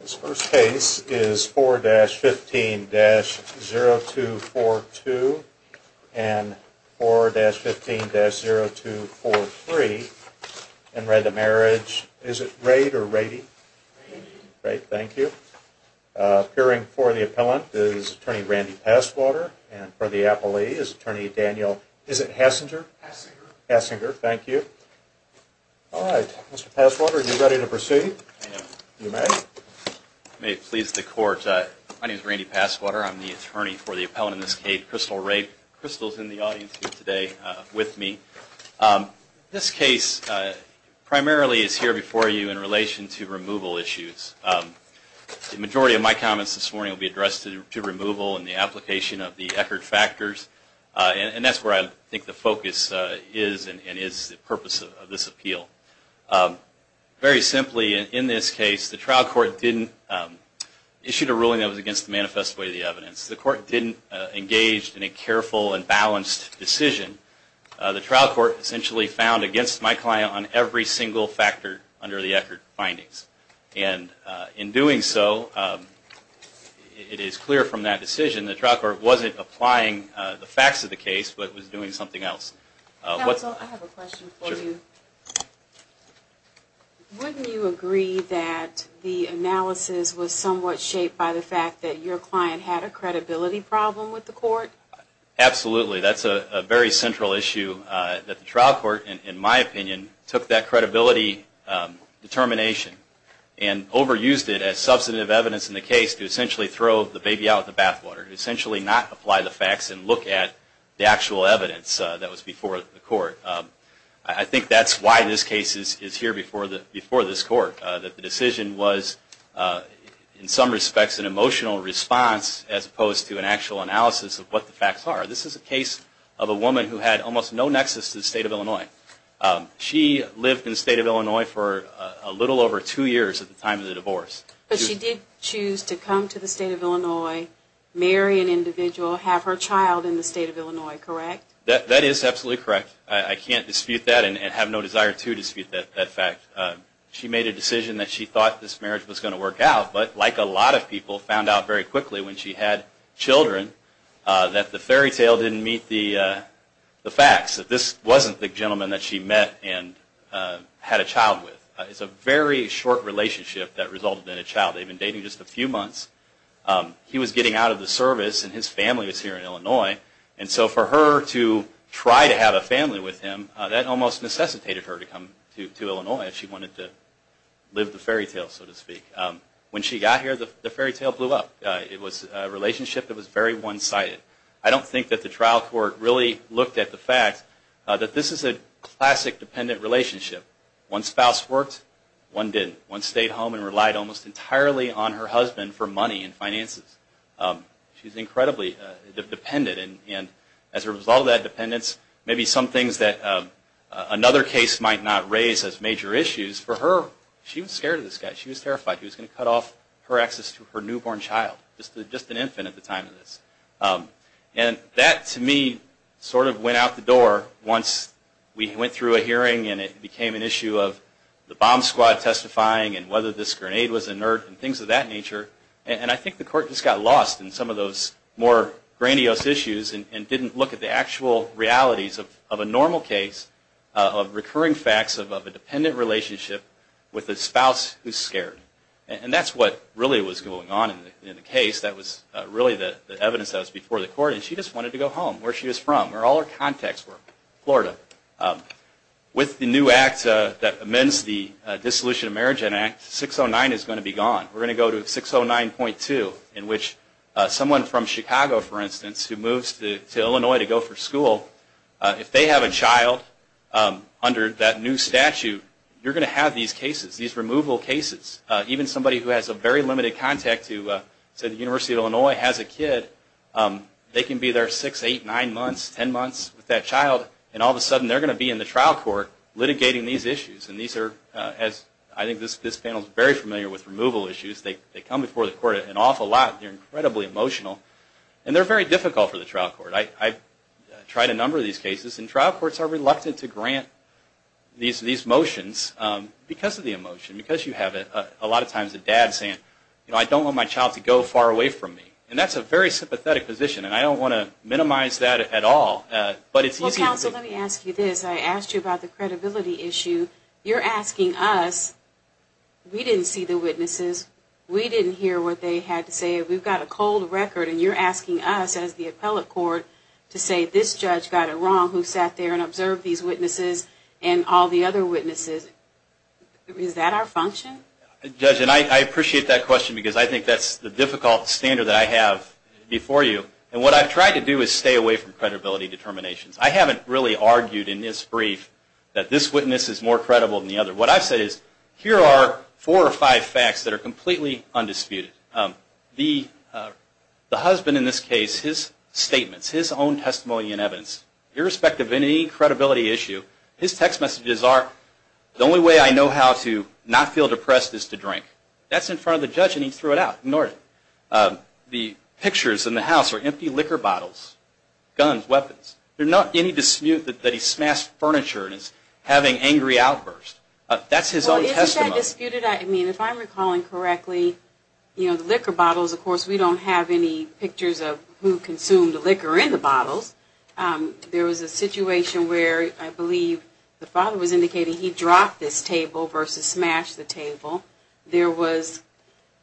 This first case is 4-15-0242 and 4-15-0243 and re the Marriage, is it Rade or Rady? Rady. Great, thank you. Appearing for the Appellant is Attorney Randy Passwater and for the Appellee is Attorney Daniel, is it Hasinger? Hasinger. Hasinger, thank you. All right, Mr. Passwater, are you ready to proceed? I am. You may. You may please the court. My name is Randy Passwater. I'm the Attorney for the Appellant in this case, Crystal Rade. Crystal is in the audience today with me. This case primarily is here before you in relation to removal issues. The majority of my comments this morning will be addressed to removal and the application of the Eckerd factors, and that's where I think the focus is and is the purpose of this appeal. Very simply, in this case, the trial court didn't issue a ruling that was against the manifest way of the evidence. The court didn't engage in a careful and balanced decision. The trial court essentially found against my client on every single factor under the Eckerd findings. In doing so, it is clear from that decision the trial court wasn't applying the facts of the case, but was doing something else. Counsel, I have a question for you. Wouldn't you agree that the analysis was somewhat shaped by the fact that your client had a credibility problem with the court? Absolutely. That's a very central issue that the trial court, in my opinion, took that credibility determination and overused it as substantive evidence in the case to essentially throw the baby out of the bathwater, essentially not apply the facts and look at the actual evidence that was before the court. I think that's why this case is here before this court, that the decision was in some respects an emotional response as opposed to an actual analysis of what the facts are. This is a case of a woman who had almost no nexus to the state of Illinois. She lived in the state of Illinois for a little over two years at the time of the divorce. But she did choose to come to the state of Illinois, marry an individual, have her child in the state of Illinois, correct? That is absolutely correct. I can't dispute that and have no desire to dispute that fact. She made a decision that she thought this marriage was going to work out, but like a lot of people found out very quickly when she had children, that the fairy tale didn't meet the facts, that this wasn't the gentleman that she met and had a child with. It's a very short relationship that resulted in a child. They've been dating just a few months. He was getting out of the service and his family was here in Illinois, and so for her to try to have a family with him, that almost necessitated her to come to Illinois if she wanted to live the fairy tale, so to speak. When she got here, the fairy tale blew up. It was a relationship that was very one-sided. I don't think that the trial court really looked at the fact that this is a classic dependent relationship. One spouse worked, one didn't. One stayed home and relied almost entirely on her husband for money and finances. She's incredibly dependent, and as a result of that dependence, maybe some things that another case might not raise as major issues. For her, she was scared of this guy. She was terrified he was going to cut off her access to her newborn child, just an infant at the time of this. And that, to me, sort of went out the door once we went through a hearing and it became an issue of the bomb squad testifying, and whether this grenade was inert, and things of that nature. And I think the court just got lost in some of those more grandiose issues and didn't look at the actual realities of a normal case of recurring facts of a dependent relationship with a spouse who's scared. And that's what really was going on in the case. That was really the evidence that was before the court. And she just wanted to go home, where she was from, where all her contacts were, Florida. With the new act that amends the Dissolution of Marriage Act, 609 is going to be gone. We're going to go to 609.2, in which someone from Chicago, for instance, who moves to Illinois to go for school, if they have a child under that new statute, you're going to have these cases, these removal cases. Even somebody who has a very limited contact to the University of Illinois has a kid, they can be there 6, 8, 9 months, 10 months with that child, and all of a sudden they're going to be in the trial court litigating these issues. I think this panel is very familiar with removal issues. They come before the court an awful lot, they're incredibly emotional, and they're very difficult for the trial court. I've tried a number of these cases, and trial courts are reluctant to grant these motions because of the emotion, because you have a lot of times a dad saying, I don't want my child to go far away from me. That's a very sympathetic position, and I don't want to minimize that at all. Counsel, let me ask you this. I asked you about the credibility issue. You're asking us, we didn't see the witnesses, we didn't hear what they had to say, we've got a cold record, and you're asking us as the appellate court to say, this judge got it wrong, who sat there and observed these witnesses, and all the other witnesses. Is that our function? Judge, and I appreciate that question, because I think that's the difficult standard that I have before you. And what I've tried to do is stay away from credibility determinations. I haven't really argued in this brief that this witness is more credible than the other. What I've said is, here are four or five facts that are completely undisputed. The husband in this case, his statements, his own testimony and evidence, irrespective of any credibility issue, his text messages are, the only way I know how to not feel depressed is to drink. That's in front of the judge, and he threw it out. Ignore it. The pictures in the house are empty liquor bottles, guns, weapons. There's not any dispute that he smashed furniture and is having angry outbursts. That's his own testimony. Well, isn't that disputed? I mean, if I'm recalling correctly, you know, the liquor bottles, of course, we don't have any evidence that he, the father was indicating he dropped this table versus smashed the table. There was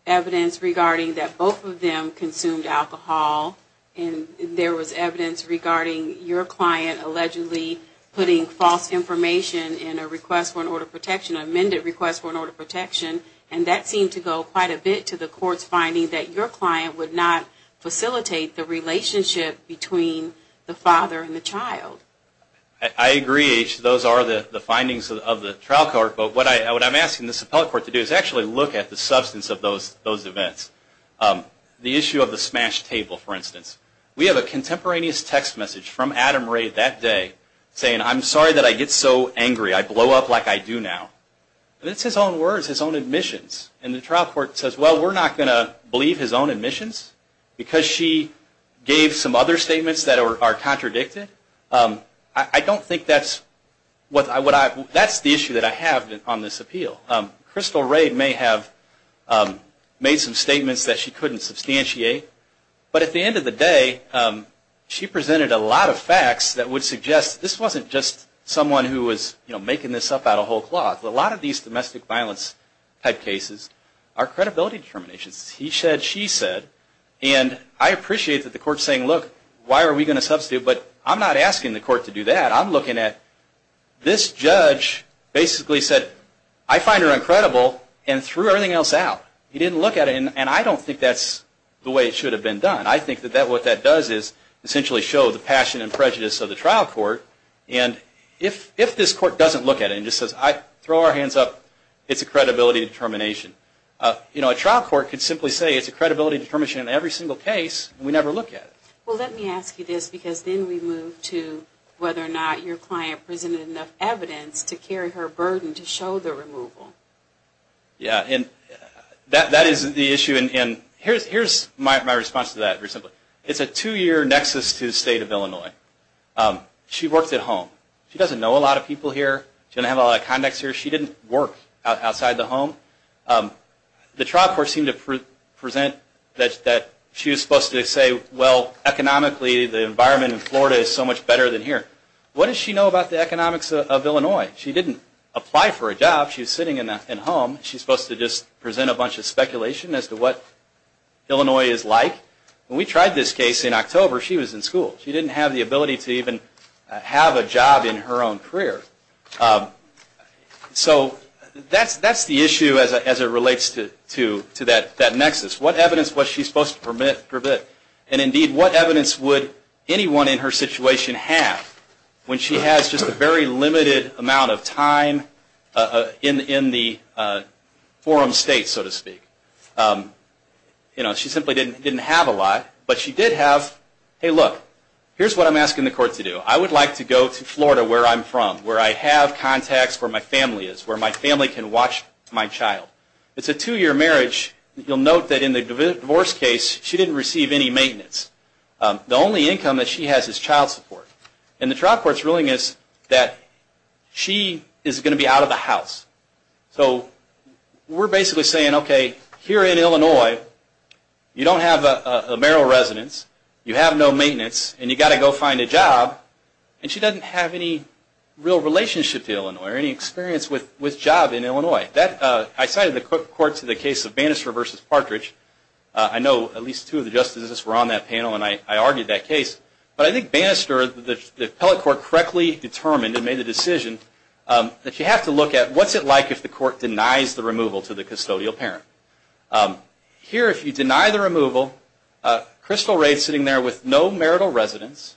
evidence regarding that both of them consumed alcohol, and there was evidence regarding your client allegedly putting false information in a request for an order of protection, an amended request for an order of protection, and that seemed to go quite a bit to the court's finding that your client would not facilitate the relationship between the father and the child. I agree. Those are the findings of the trial court, but what I'm asking this appellate court to do is actually look at the substance of those events. The issue of the smashed table, for instance. We have a contemporaneous text message from Adam Ray that day saying, I'm sorry that I get so angry. I blow up like I do now. That's his own words, his own admissions, and the trial court says, well, we're not going to believe his own admissions because she gave some other statements that are contradicted. I don't think that's the issue that I have on this appeal. Crystal Ray may have made some statements that she couldn't substantiate, but at the end of the day, she presented a lot of facts that would suggest this wasn't just someone who was making this up out of whole cloth. A lot of these domestic violence type cases are credibility determinations. He said, she said, and I appreciate that the court's saying, look, why are we going to substitute, but I'm not asking the court to do that. I'm looking at this judge basically said, I find her incredible and threw everything else out. He didn't look at it, and I don't think that's the way it should have been done. I think that what that does is essentially show the passion and prejudice of the trial court, and if this court doesn't look at it and just says, throw our hands up, it's a credibility determination. You know, a trial court could simply say it's a credibility determination in every single case, and we never look at it. Well, let me ask you this, because then we move to whether or not your client presented enough evidence to carry her burden to show the removal. That is the issue, and here's my response to that. It's a two-year nexus to the state of Illinois. She works at home. She doesn't know a lot of people here. She doesn't have a lot of contacts here. She didn't work outside the home. The trial court seemed to present that she was supposed to say, well, economically, the environment in Florida is so much better than here. What does she know about the economics of Illinois? She didn't apply for a job. She was sitting at home. She's supposed to just present a bunch of speculation as to what Illinois is like. When we tried this case in October, she was in school. She didn't have the ability to even have a job in her own career. So, that's the issue as it relates to that nexus. What evidence was she supposed to permit? And indeed, what evidence would anyone in her situation have when she has just a very limited amount of time in the forum state, so to speak? She simply didn't have a lot, but she did have, hey, look, here's what I'm like in Florida, where I'm from, where I have contacts, where my family is, where my family can watch my child. It's a two-year marriage. You'll note that in the divorce case, she didn't receive any maintenance. The only income that she has is child support. And the trial court's ruling is that she is going to be out of the house. So, we're basically saying, okay, here in Illinois, you don't have a marital residence, you have no maintenance, and you've got to go find a job, and she doesn't have any real relationship to Illinois or any experience with job in Illinois. I cited the court to the case of Bannister v. Partridge. I know at least two of the justices were on that panel, and I argued that case. But I think Bannister, the appellate court, correctly determined and made the decision that you have to look at what's it like if the court denies the removal to the custodial parent. Here, if you deny the removal, Crystal Ray is sitting there with no marital residence,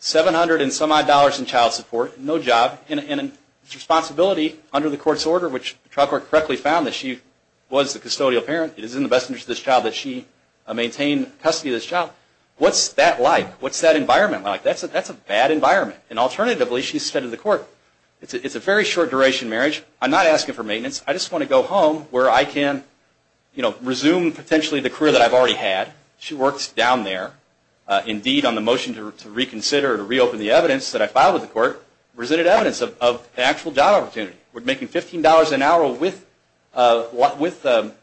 $700 and some odd dollars in child support, no job, and responsibility under the court's order, which the trial court correctly found that she was the custodial parent. It is in the best interest of this child that she maintain custody of this child. What's that like? What's that environment like? That's a bad environment. And alternatively, she said to the court, it's a very short duration marriage. I'm not asking for maintenance. I just want to go home where I can resume potentially the career that I've already had. She works down there. Indeed, on the motion to reconsider, to reopen the evidence that I filed with the court, resented evidence of the actual job opportunity. We're making $15 an hour with babysitting.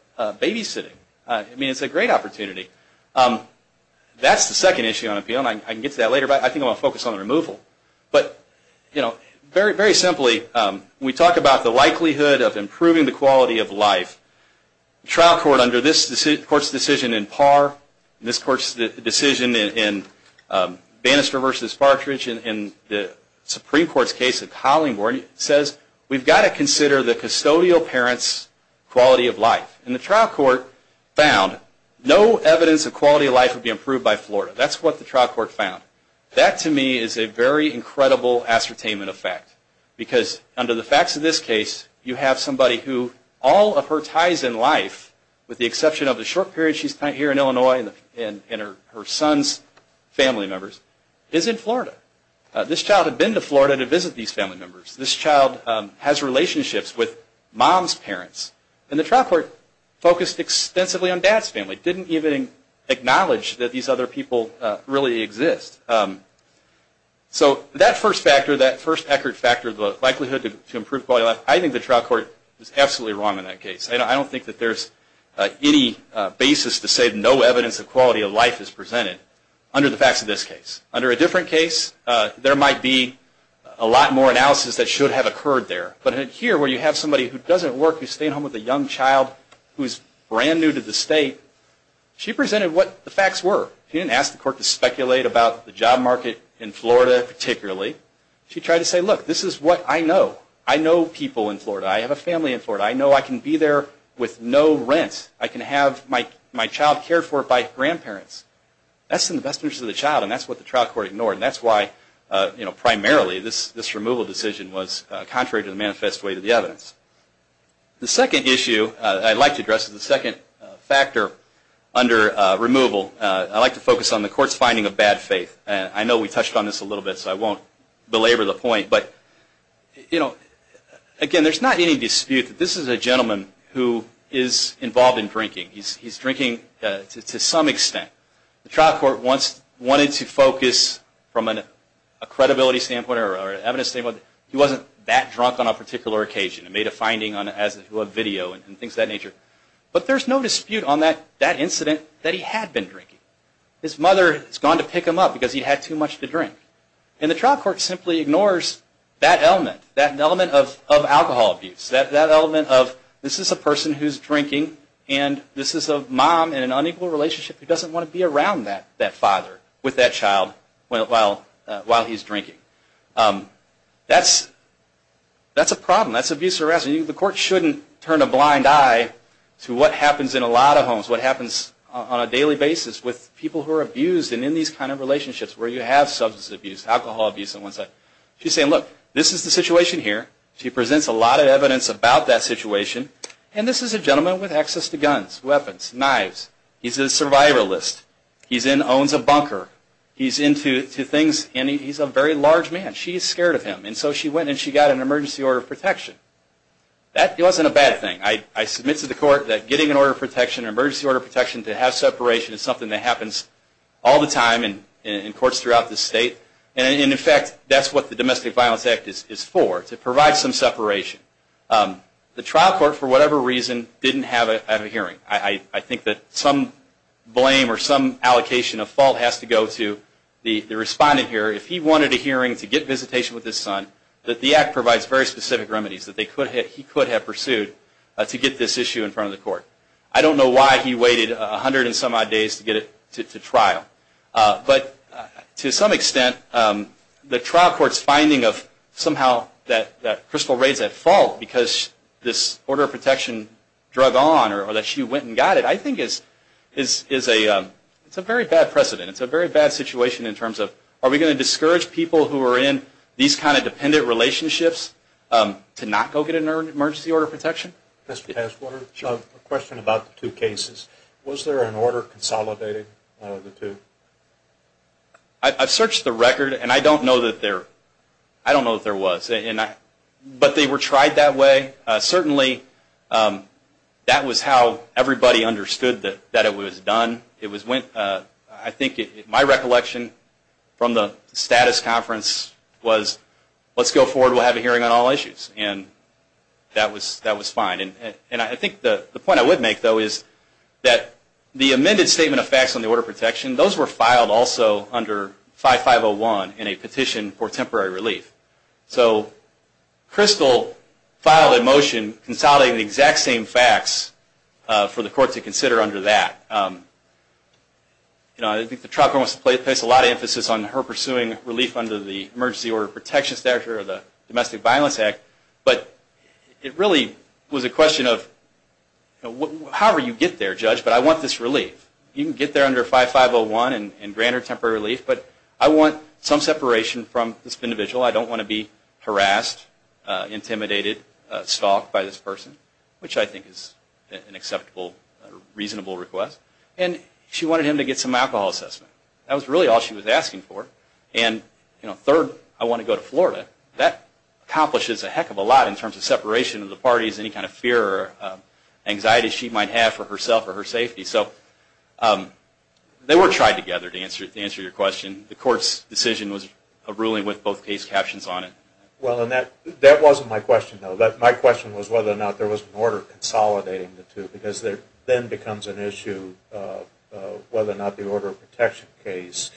It's a great opportunity. That's the second issue on appeal. I can get to that later, but I think I want to focus on the removal. Very simply, we talk about the likelihood of improving the quality of life. The trial court under this court's decision in Parr, this court's decision in Bannister v. Partridge, and the Supreme Court's case in Hollingworth, says we've got to consider the custodial parent's quality of life. And the trial court found no evidence of quality of life would be improved by Florida. That's what the trial court found. That, to me, is a very incredible ascertainment of fact. Because under the facts of this case, you have somebody who, all of her ties in life, with the exception of the short period she spent here in Illinois and her son's family members, is in Florida. This child had been to Florida to visit these family members. This child has relationships with mom's parents. And the trial court focused extensively on dad's family, didn't even acknowledge that these other people really exist. So that first factor, that first accurate factor, the likelihood to improve quality of life, I think the basis to say no evidence of quality of life is presented under the facts of this case. Under a different case, there might be a lot more analysis that should have occurred there. But here, where you have somebody who doesn't work, who's staying home with a young child, who's brand new to the state, she presented what the facts were. She didn't ask the court to speculate about the job market in Florida, particularly. She tried to say, look, this is what I know. I know people in Florida. I have a family in Florida. I know I can be there with no rent. I can have my child cared for by grandparents. That's in the best interest of the child, and that's what the trial court ignored. And that's why, primarily, this removal decision was contrary to the manifest way to the evidence. The second issue I'd like to address is the second factor under removal. I'd like to focus on the court's finding of bad faith. I know we touched on this a little bit, so I won't belabor the point. But, you know, again, there's not any dispute that this is a gentleman who is involved in drinking. He's drinking to some extent. The trial court wanted to focus, from a credibility standpoint or evidence standpoint, he wasn't that drunk on a particular occasion and made a finding on a video and things of that nature. But there's no dispute on that incident that he had been drinking. His mother has gone to pick him up because he had too much to drink. And the trial court simply ignores that element, that element of alcohol abuse, that element of, this is a person who's drinking and this is a mom in an unequal relationship who doesn't want to be around that father with that child while he's drinking. That's a problem. That's abuse harassment. The court shouldn't turn a blind eye to what happens in a lot of homes, what happens on a daily basis with people who are abused and in these kinds of relationships where you have substance abuse, alcohol abuse. She's saying, look, this is the situation here. She presents a lot of evidence about that situation. And this is a gentleman with access to guns, weapons, knives. He's a survivalist. He owns a bunker. He's into It wasn't a bad thing. I submit to the court that getting an emergency order of protection to have separation is something that happens all the time in courts throughout the state. And in fact, that's what the Domestic Violence Act is for, to provide some separation. The trial court, for whatever reason, didn't have a hearing. I think that some blame or some allocation of fault has to go to the respondent here. If he wanted a hearing to get visitation with his son, that the act provides very specific remedies that he could have pursued to get this issue in front of the court. I don't know why he waited a hundred and some odd days to get it to trial. But to some extent, the trial court's finding of somehow that crystal rays at fault because this order of protection drug on or that she went and got it, is a very bad precedent. It's a very bad situation in terms of, are we going to discourage people who are in these kind of dependent relationships to not go get an emergency order of protection? A question about the two cases. Was there an order consolidating the two? I've searched the record, and I don't know that there was. But they were tried that way. Certainly, that was how everybody understood that it was done. My recollection from the status conference was, let's go forward, we'll have a hearing on all issues. And that was fine. I think the point I would make, though, is that the amended statement of facts on the order of protection, those were filed also under 5501 in a petition for temporary relief. So Crystal filed a motion consolidating the exact same facts for the court to consider under that. I think the trial court placed a lot of emphasis on her pursuing relief under the emergency order of protection statute or the Domestic Violence Act. But it really was a question of, however you get there, Judge, but I want this relief. You can get there under 5501 and grant her temporary relief, but I want some separation from this individual. I don't want to be harassed, intimidated, stalked by this person, which I think is an acceptable, reasonable request. And she wanted him to get some alcohol assessment. That was really all she was asking for. And third, I want to go to Florida. That accomplishes a heck of a lot in terms of separation of the parties, any kind of fear or anxiety she might have for herself or her safety. So they were tried together, to answer your question. The court's decision was a ruling with both case captions on it. Well, and that wasn't my question, though. My question was whether or not there was an order consolidating the two. Because there then becomes an issue of whether or not the order of protection case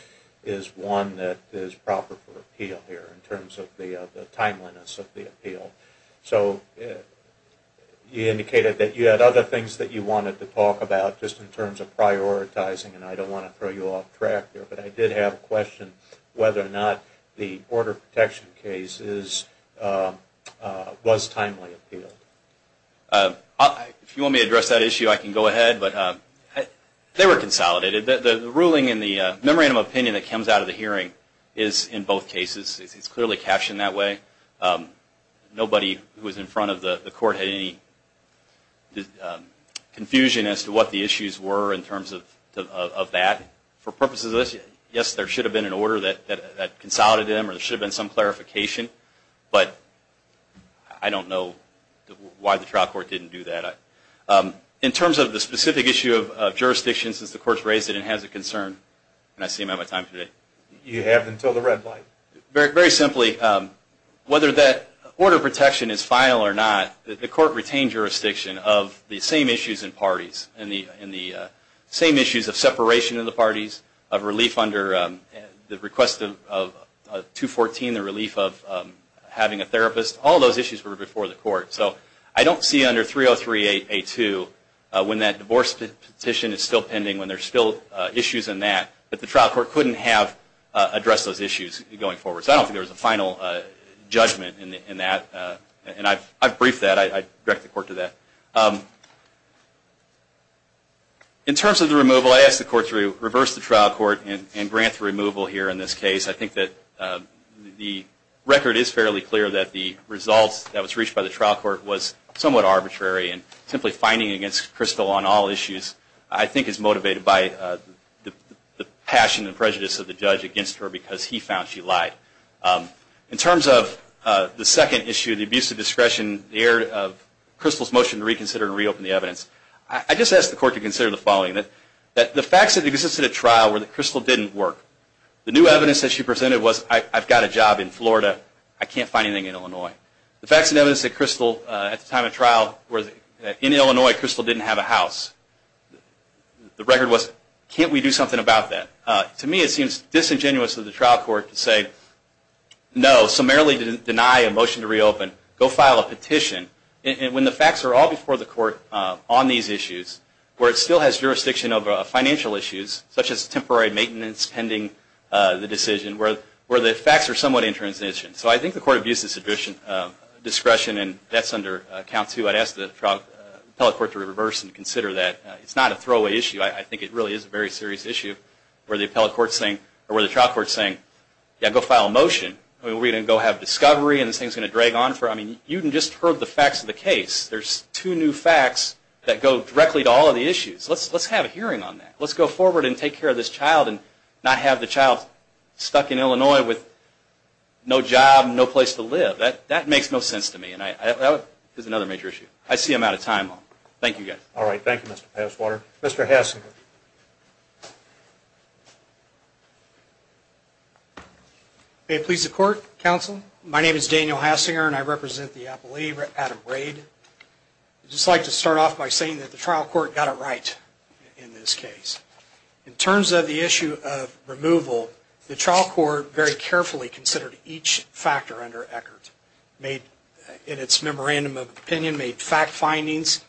is one that is proper for appeal here, in terms of the timeliness of the appeal. So you indicated that you had other things that you wanted to talk about, just in terms of prioritizing. And I don't want to throw you off track here, but I did have a question whether or not the order of protection case was timely appealed. If you want me to address that issue, I can go ahead. They were consolidated. The ruling and the memorandum of opinion that comes out of the hearing is in both cases. It's clearly captioned that way. Nobody who was in front of the court had any confusion as to what the issues were, in terms of that. For purposes of this, yes, there should have been an order that consolidated them, or there should have been some clarification. But I don't know why the trial court didn't do that. In terms of the specific issue of jurisdiction, since the court's raised it and has a concern, and I see I'm out of time today. Very simply, whether that order of protection is final or not, the court retained jurisdiction of the same issues in parties, and the same issues of separation in the parties, of relief under the request of 214, the relief of having a therapist. All those issues were before the court. So I don't see under 303A2, when that divorce petition is still pending, when there's still issues in that, that the trial court couldn't have addressed those issues going forward. So I don't think there was a final judgment in that, and I've briefed that, I've directed the court to that. In terms of the removal, I asked the court to reverse the trial court and grant the removal here in this case. I think that the record is fairly clear that the results that was reached by the trial court was somewhat arbitrary, and simply finding it against Crystal on all issues, I think is motivated by the passion and prejudice of the judge against her because he found she lied. In terms of the second issue, the abuse of discretion, the error of Crystal's motion to reconsider and reopen the evidence, I just asked the court to consider the following. The facts that existed at trial were that Crystal didn't work. The new evidence that she presented was, I've got a job in Florida, I can't find anything in Illinois. The facts and evidence that Crystal, at the time of trial, was in Illinois, Crystal didn't have a house. The record was, can't we do something about that? To me it seems disingenuous of the trial court to say, no, summarily deny a motion to reopen, go file a petition. And when the facts are all before the court on these issues, where it still has jurisdiction over financial issues, such as temporary maintenance pending the decision, where the facts are somewhat in transition. So I think the court abuses discretion, and that's under account too. I'd ask the appellate court to reverse and consider that. It's not a throwaway issue. I think it really is a very serious issue where the trial court's saying, yeah, go file a motion. Are we going to go have discovery and this thing's going to drag on? You just heard the facts of the case. There's two new facts that go directly to all of the issues. Let's have a hearing on that. Let's go forward and take care of this child and not have the child stuck in Illinois with no job, no place to live. That makes no sense to me. That is another major issue. I see I'm out of time. Thank you guys. All right. Thank you, Mr. Passwater. Mr. Hassinger. May it please the court, counsel. My name is Daniel Hassinger, and I represent the appellate, Adam Rade. I'd just like to start off by saying that the trial court got it right in this case. In terms of the issue of removal, the trial court very carefully considered each factor under Eckert. In its memorandum of opinion, made fact findings.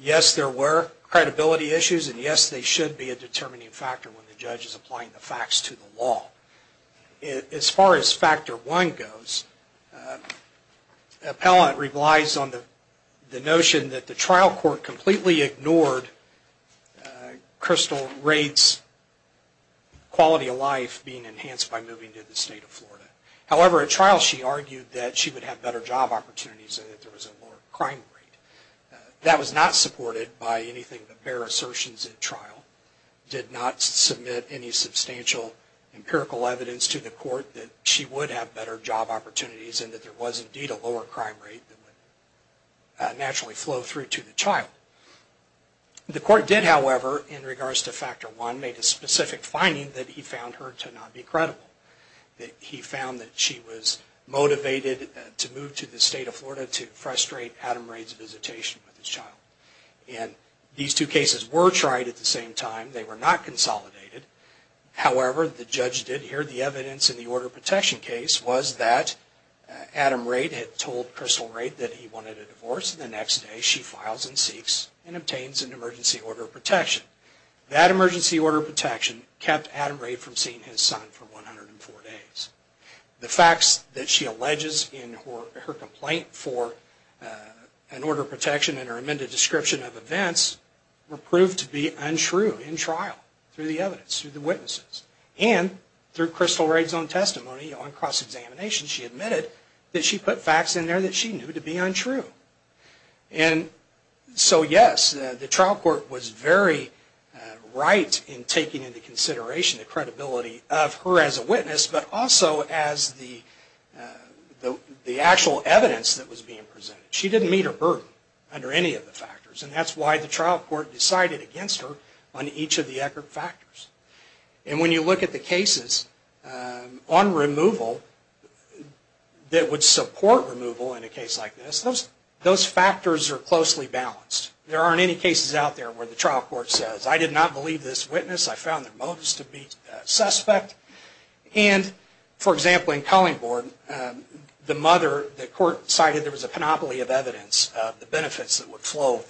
Yes, there were credibility issues, and yes, they should be a determining factor when the judge is applying the facts to the law. As far as factor one goes, the appellate relies on the notion that the trial court completely ignored Crystal Rade's quality of life being enhanced by moving to the state of Florida. However, at trial she argued that she would have better job opportunities and that there was a lower crime rate. That was not supported by anything but bare assertions at trial. It did not submit any substantial empirical evidence to the court that she would have better job opportunities and that there was indeed a lower crime rate that would naturally flow through to the child. The court did, however, in regards to factor one, made a specific finding that he found her to not be credible. He found that she was motivated to move to the state of Florida to frustrate Adam Rade's visitation with his child. These two cases were tried at the same time. They were not consolidated. However, the judge did hear the evidence in the order of protection case was that Adam Rade had told Crystal Rade that he wanted a divorce and the next day she files and seeks and obtains an emergency order of protection. That emergency order of protection kept Adam Rade from seeing his son for 104 days. The facts that she alleges in her complaint for an order of protection were not true. Crystal Rade's testimony on cross-examination admitted that she put facts in there that she knew to be untrue. So yes, the trial court was very right in taking into consideration the credibility of her as a witness but also as the actual evidence that was being presented. She didn't meet her burden under any of the factors and that's why the trial court decided against her on each of the factors. When you look at the cases on removal that would support removal in a case like this, those factors are closely balanced. There aren't any cases out there where the trial court says I did not believe this witness, I found their motives to be suspect. For example, in Cullingborn, the mother, the court cited there was a monopoly of evidence of the benefits that would flow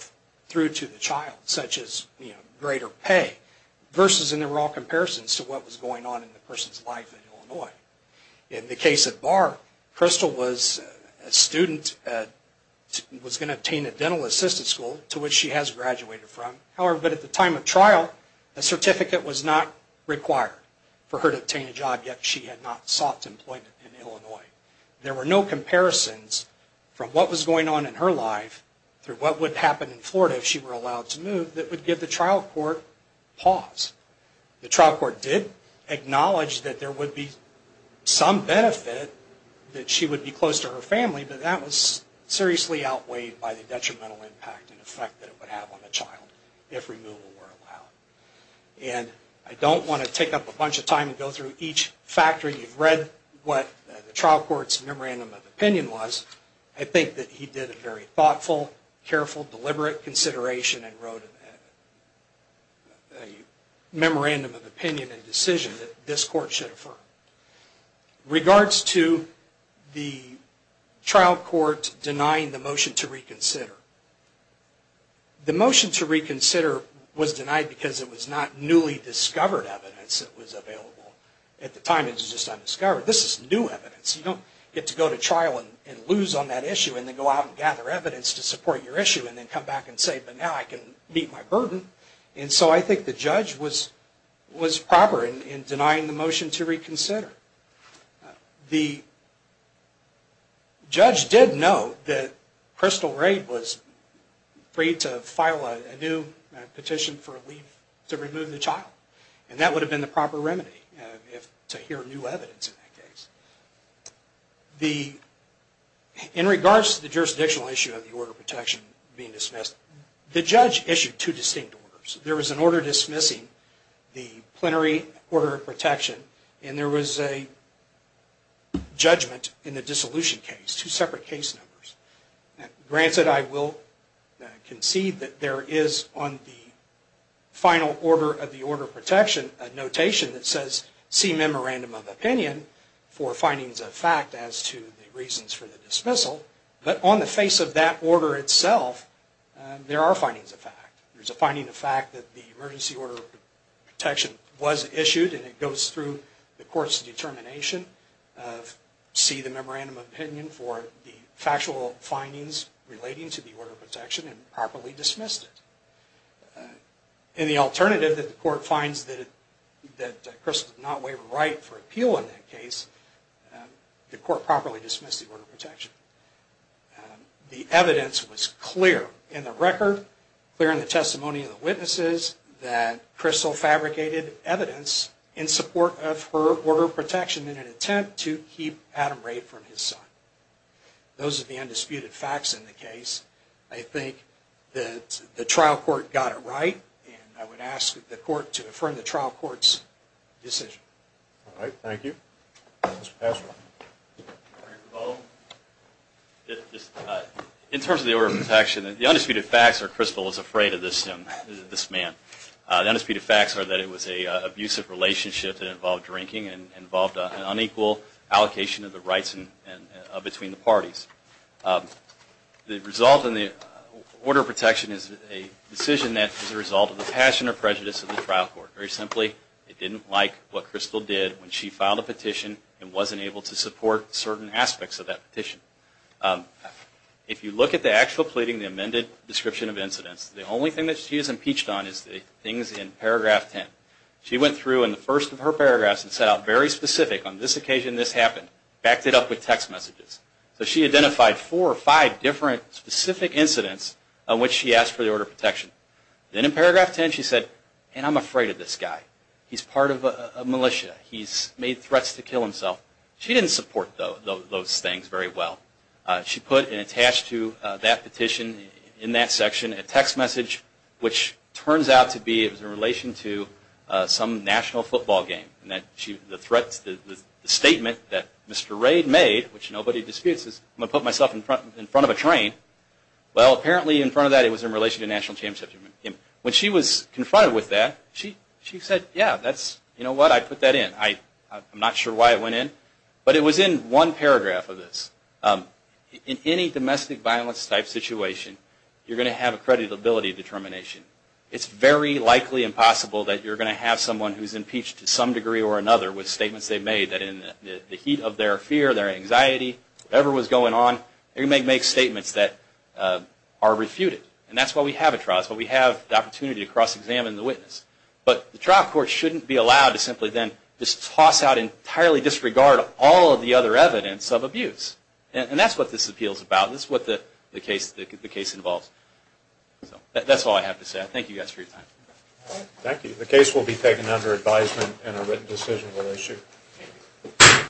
through to the child such as greater pay versus in the raw comparisons to what was going on in the person's life in Illinois. In the case of Barr, Crystal was a student that was going to obtain a dental assistant school to which she has graduated from. However, at the time of trial, a certificate was not required for her to obtain a job yet she had not sought employment in Illinois. There were no comparisons from what was going on in her life through what would happen in Florida if she were allowed to move that would give the trial court pause. The trial court did acknowledge that there would be some benefit that she would be close to her family, but that was seriously outweighed by the detrimental impact and effect that it would have on the child if removal were allowed. And I don't want to take up a bunch of time and go through each factor. You've read what the trial court's memorandum of opinion was. I think that he did a very thoughtful, careful, deliberate consideration and wrote a memorandum of opinion and decision that this court should trial court denying the motion to reconsider. The motion to reconsider was denied because it was not newly discovered evidence that was available. At the time it was just undiscovered. This is new evidence. You don't get to go to trial and lose on that issue and then go out and gather evidence to support your issue and then come back and say, but now I can meet my burden. And so I think the judge was proper in denying the motion to reconsider. The judge did know that Crystal Ray was free to file a new petition for a leave to remove the child. And that would have been the proper remedy to hear new evidence in that case. In regards to the jurisdictional issue of the order of protection being dismissed, the judge issued two distinct orders. There was an order dismissing the plenary order of protection and there was a judgment in the dissolution case. Two separate case numbers. Granted, I will concede that there is on the final order of the order of protection a notation that says, see memorandum of opinion for findings of fact as to the reasons for the dismissal. But on the face of that order itself, there are findings of fact. There's a fact that the emergency order of protection was issued and it goes through the court's determination of, see the memorandum of opinion for the factual findings relating to the order of protection and properly dismissed it. And the alternative that the court finds that Crystal did not waive a right for appeal in that case, the court properly dismissed the order of protection. The evidence was clear in the record, clear in the testimony of the witnesses, and clear in the testimony that Crystal fabricated evidence in support of her order of protection in an attempt to keep Adam Rae from his son. Those are the undisputed facts in the case. I think that the trial court got it right and I would ask the court to affirm the trial court's decision. In terms of the order of protection, the undisputed facts are Crystal is afraid of this man. The undisputed facts are that it was an abusive relationship that involved drinking and involved an unequal allocation of the rights between the parties. The result in the order of protection is a decision that is a result of the passion or prejudice of the trial court. Very simply, it didn't like what Crystal did when she filed a petition and wasn't able to support certain aspects of that petition. If you look at the actual pleading, the amended description of incidents, the only thing that she is impeached on is the things in paragraph 10. She went through in the first of her paragraphs and set out very specific, on this occasion this happened, backed it up with text messages. So she identified four or five different specific incidents on which she asked for the order of protection. Then in paragraph 10 she said, and I'm afraid of this guy. He's part of a militia. He's made threats to kill himself. She didn't support those things very well. She put and attached to that petition in that section a text message which turns out to be in relation to some national football game. The statement that Mr. Raid made, which nobody disputes, is I'm going to put myself in front of a train. Well, apparently in front of that it was in relation to National Championship. When she was confronted with that, she said, yeah, you know what, I put that in. I'm not sure why it went in. But it was in one paragraph of this. In any domestic violence type situation, you're going to have a creditability determination. It's very likely impossible that you're going to have someone who's impeached to some degree or another with statements they've made that in the heat of their fear, their anxiety, whatever was going on, they may make statements that are refuted. And that's why we have a trial. That's why we have the opportunity to cross-examine the witness. But the trial court shouldn't be allowed to simply then just toss out and entirely disregard all of the other evidence of abuse. And that's what this appeal is about. This is what the case involves. That's all I have to say. I thank you guys for your time. Thank you. The case will be taken under advisement and a written decision will issue.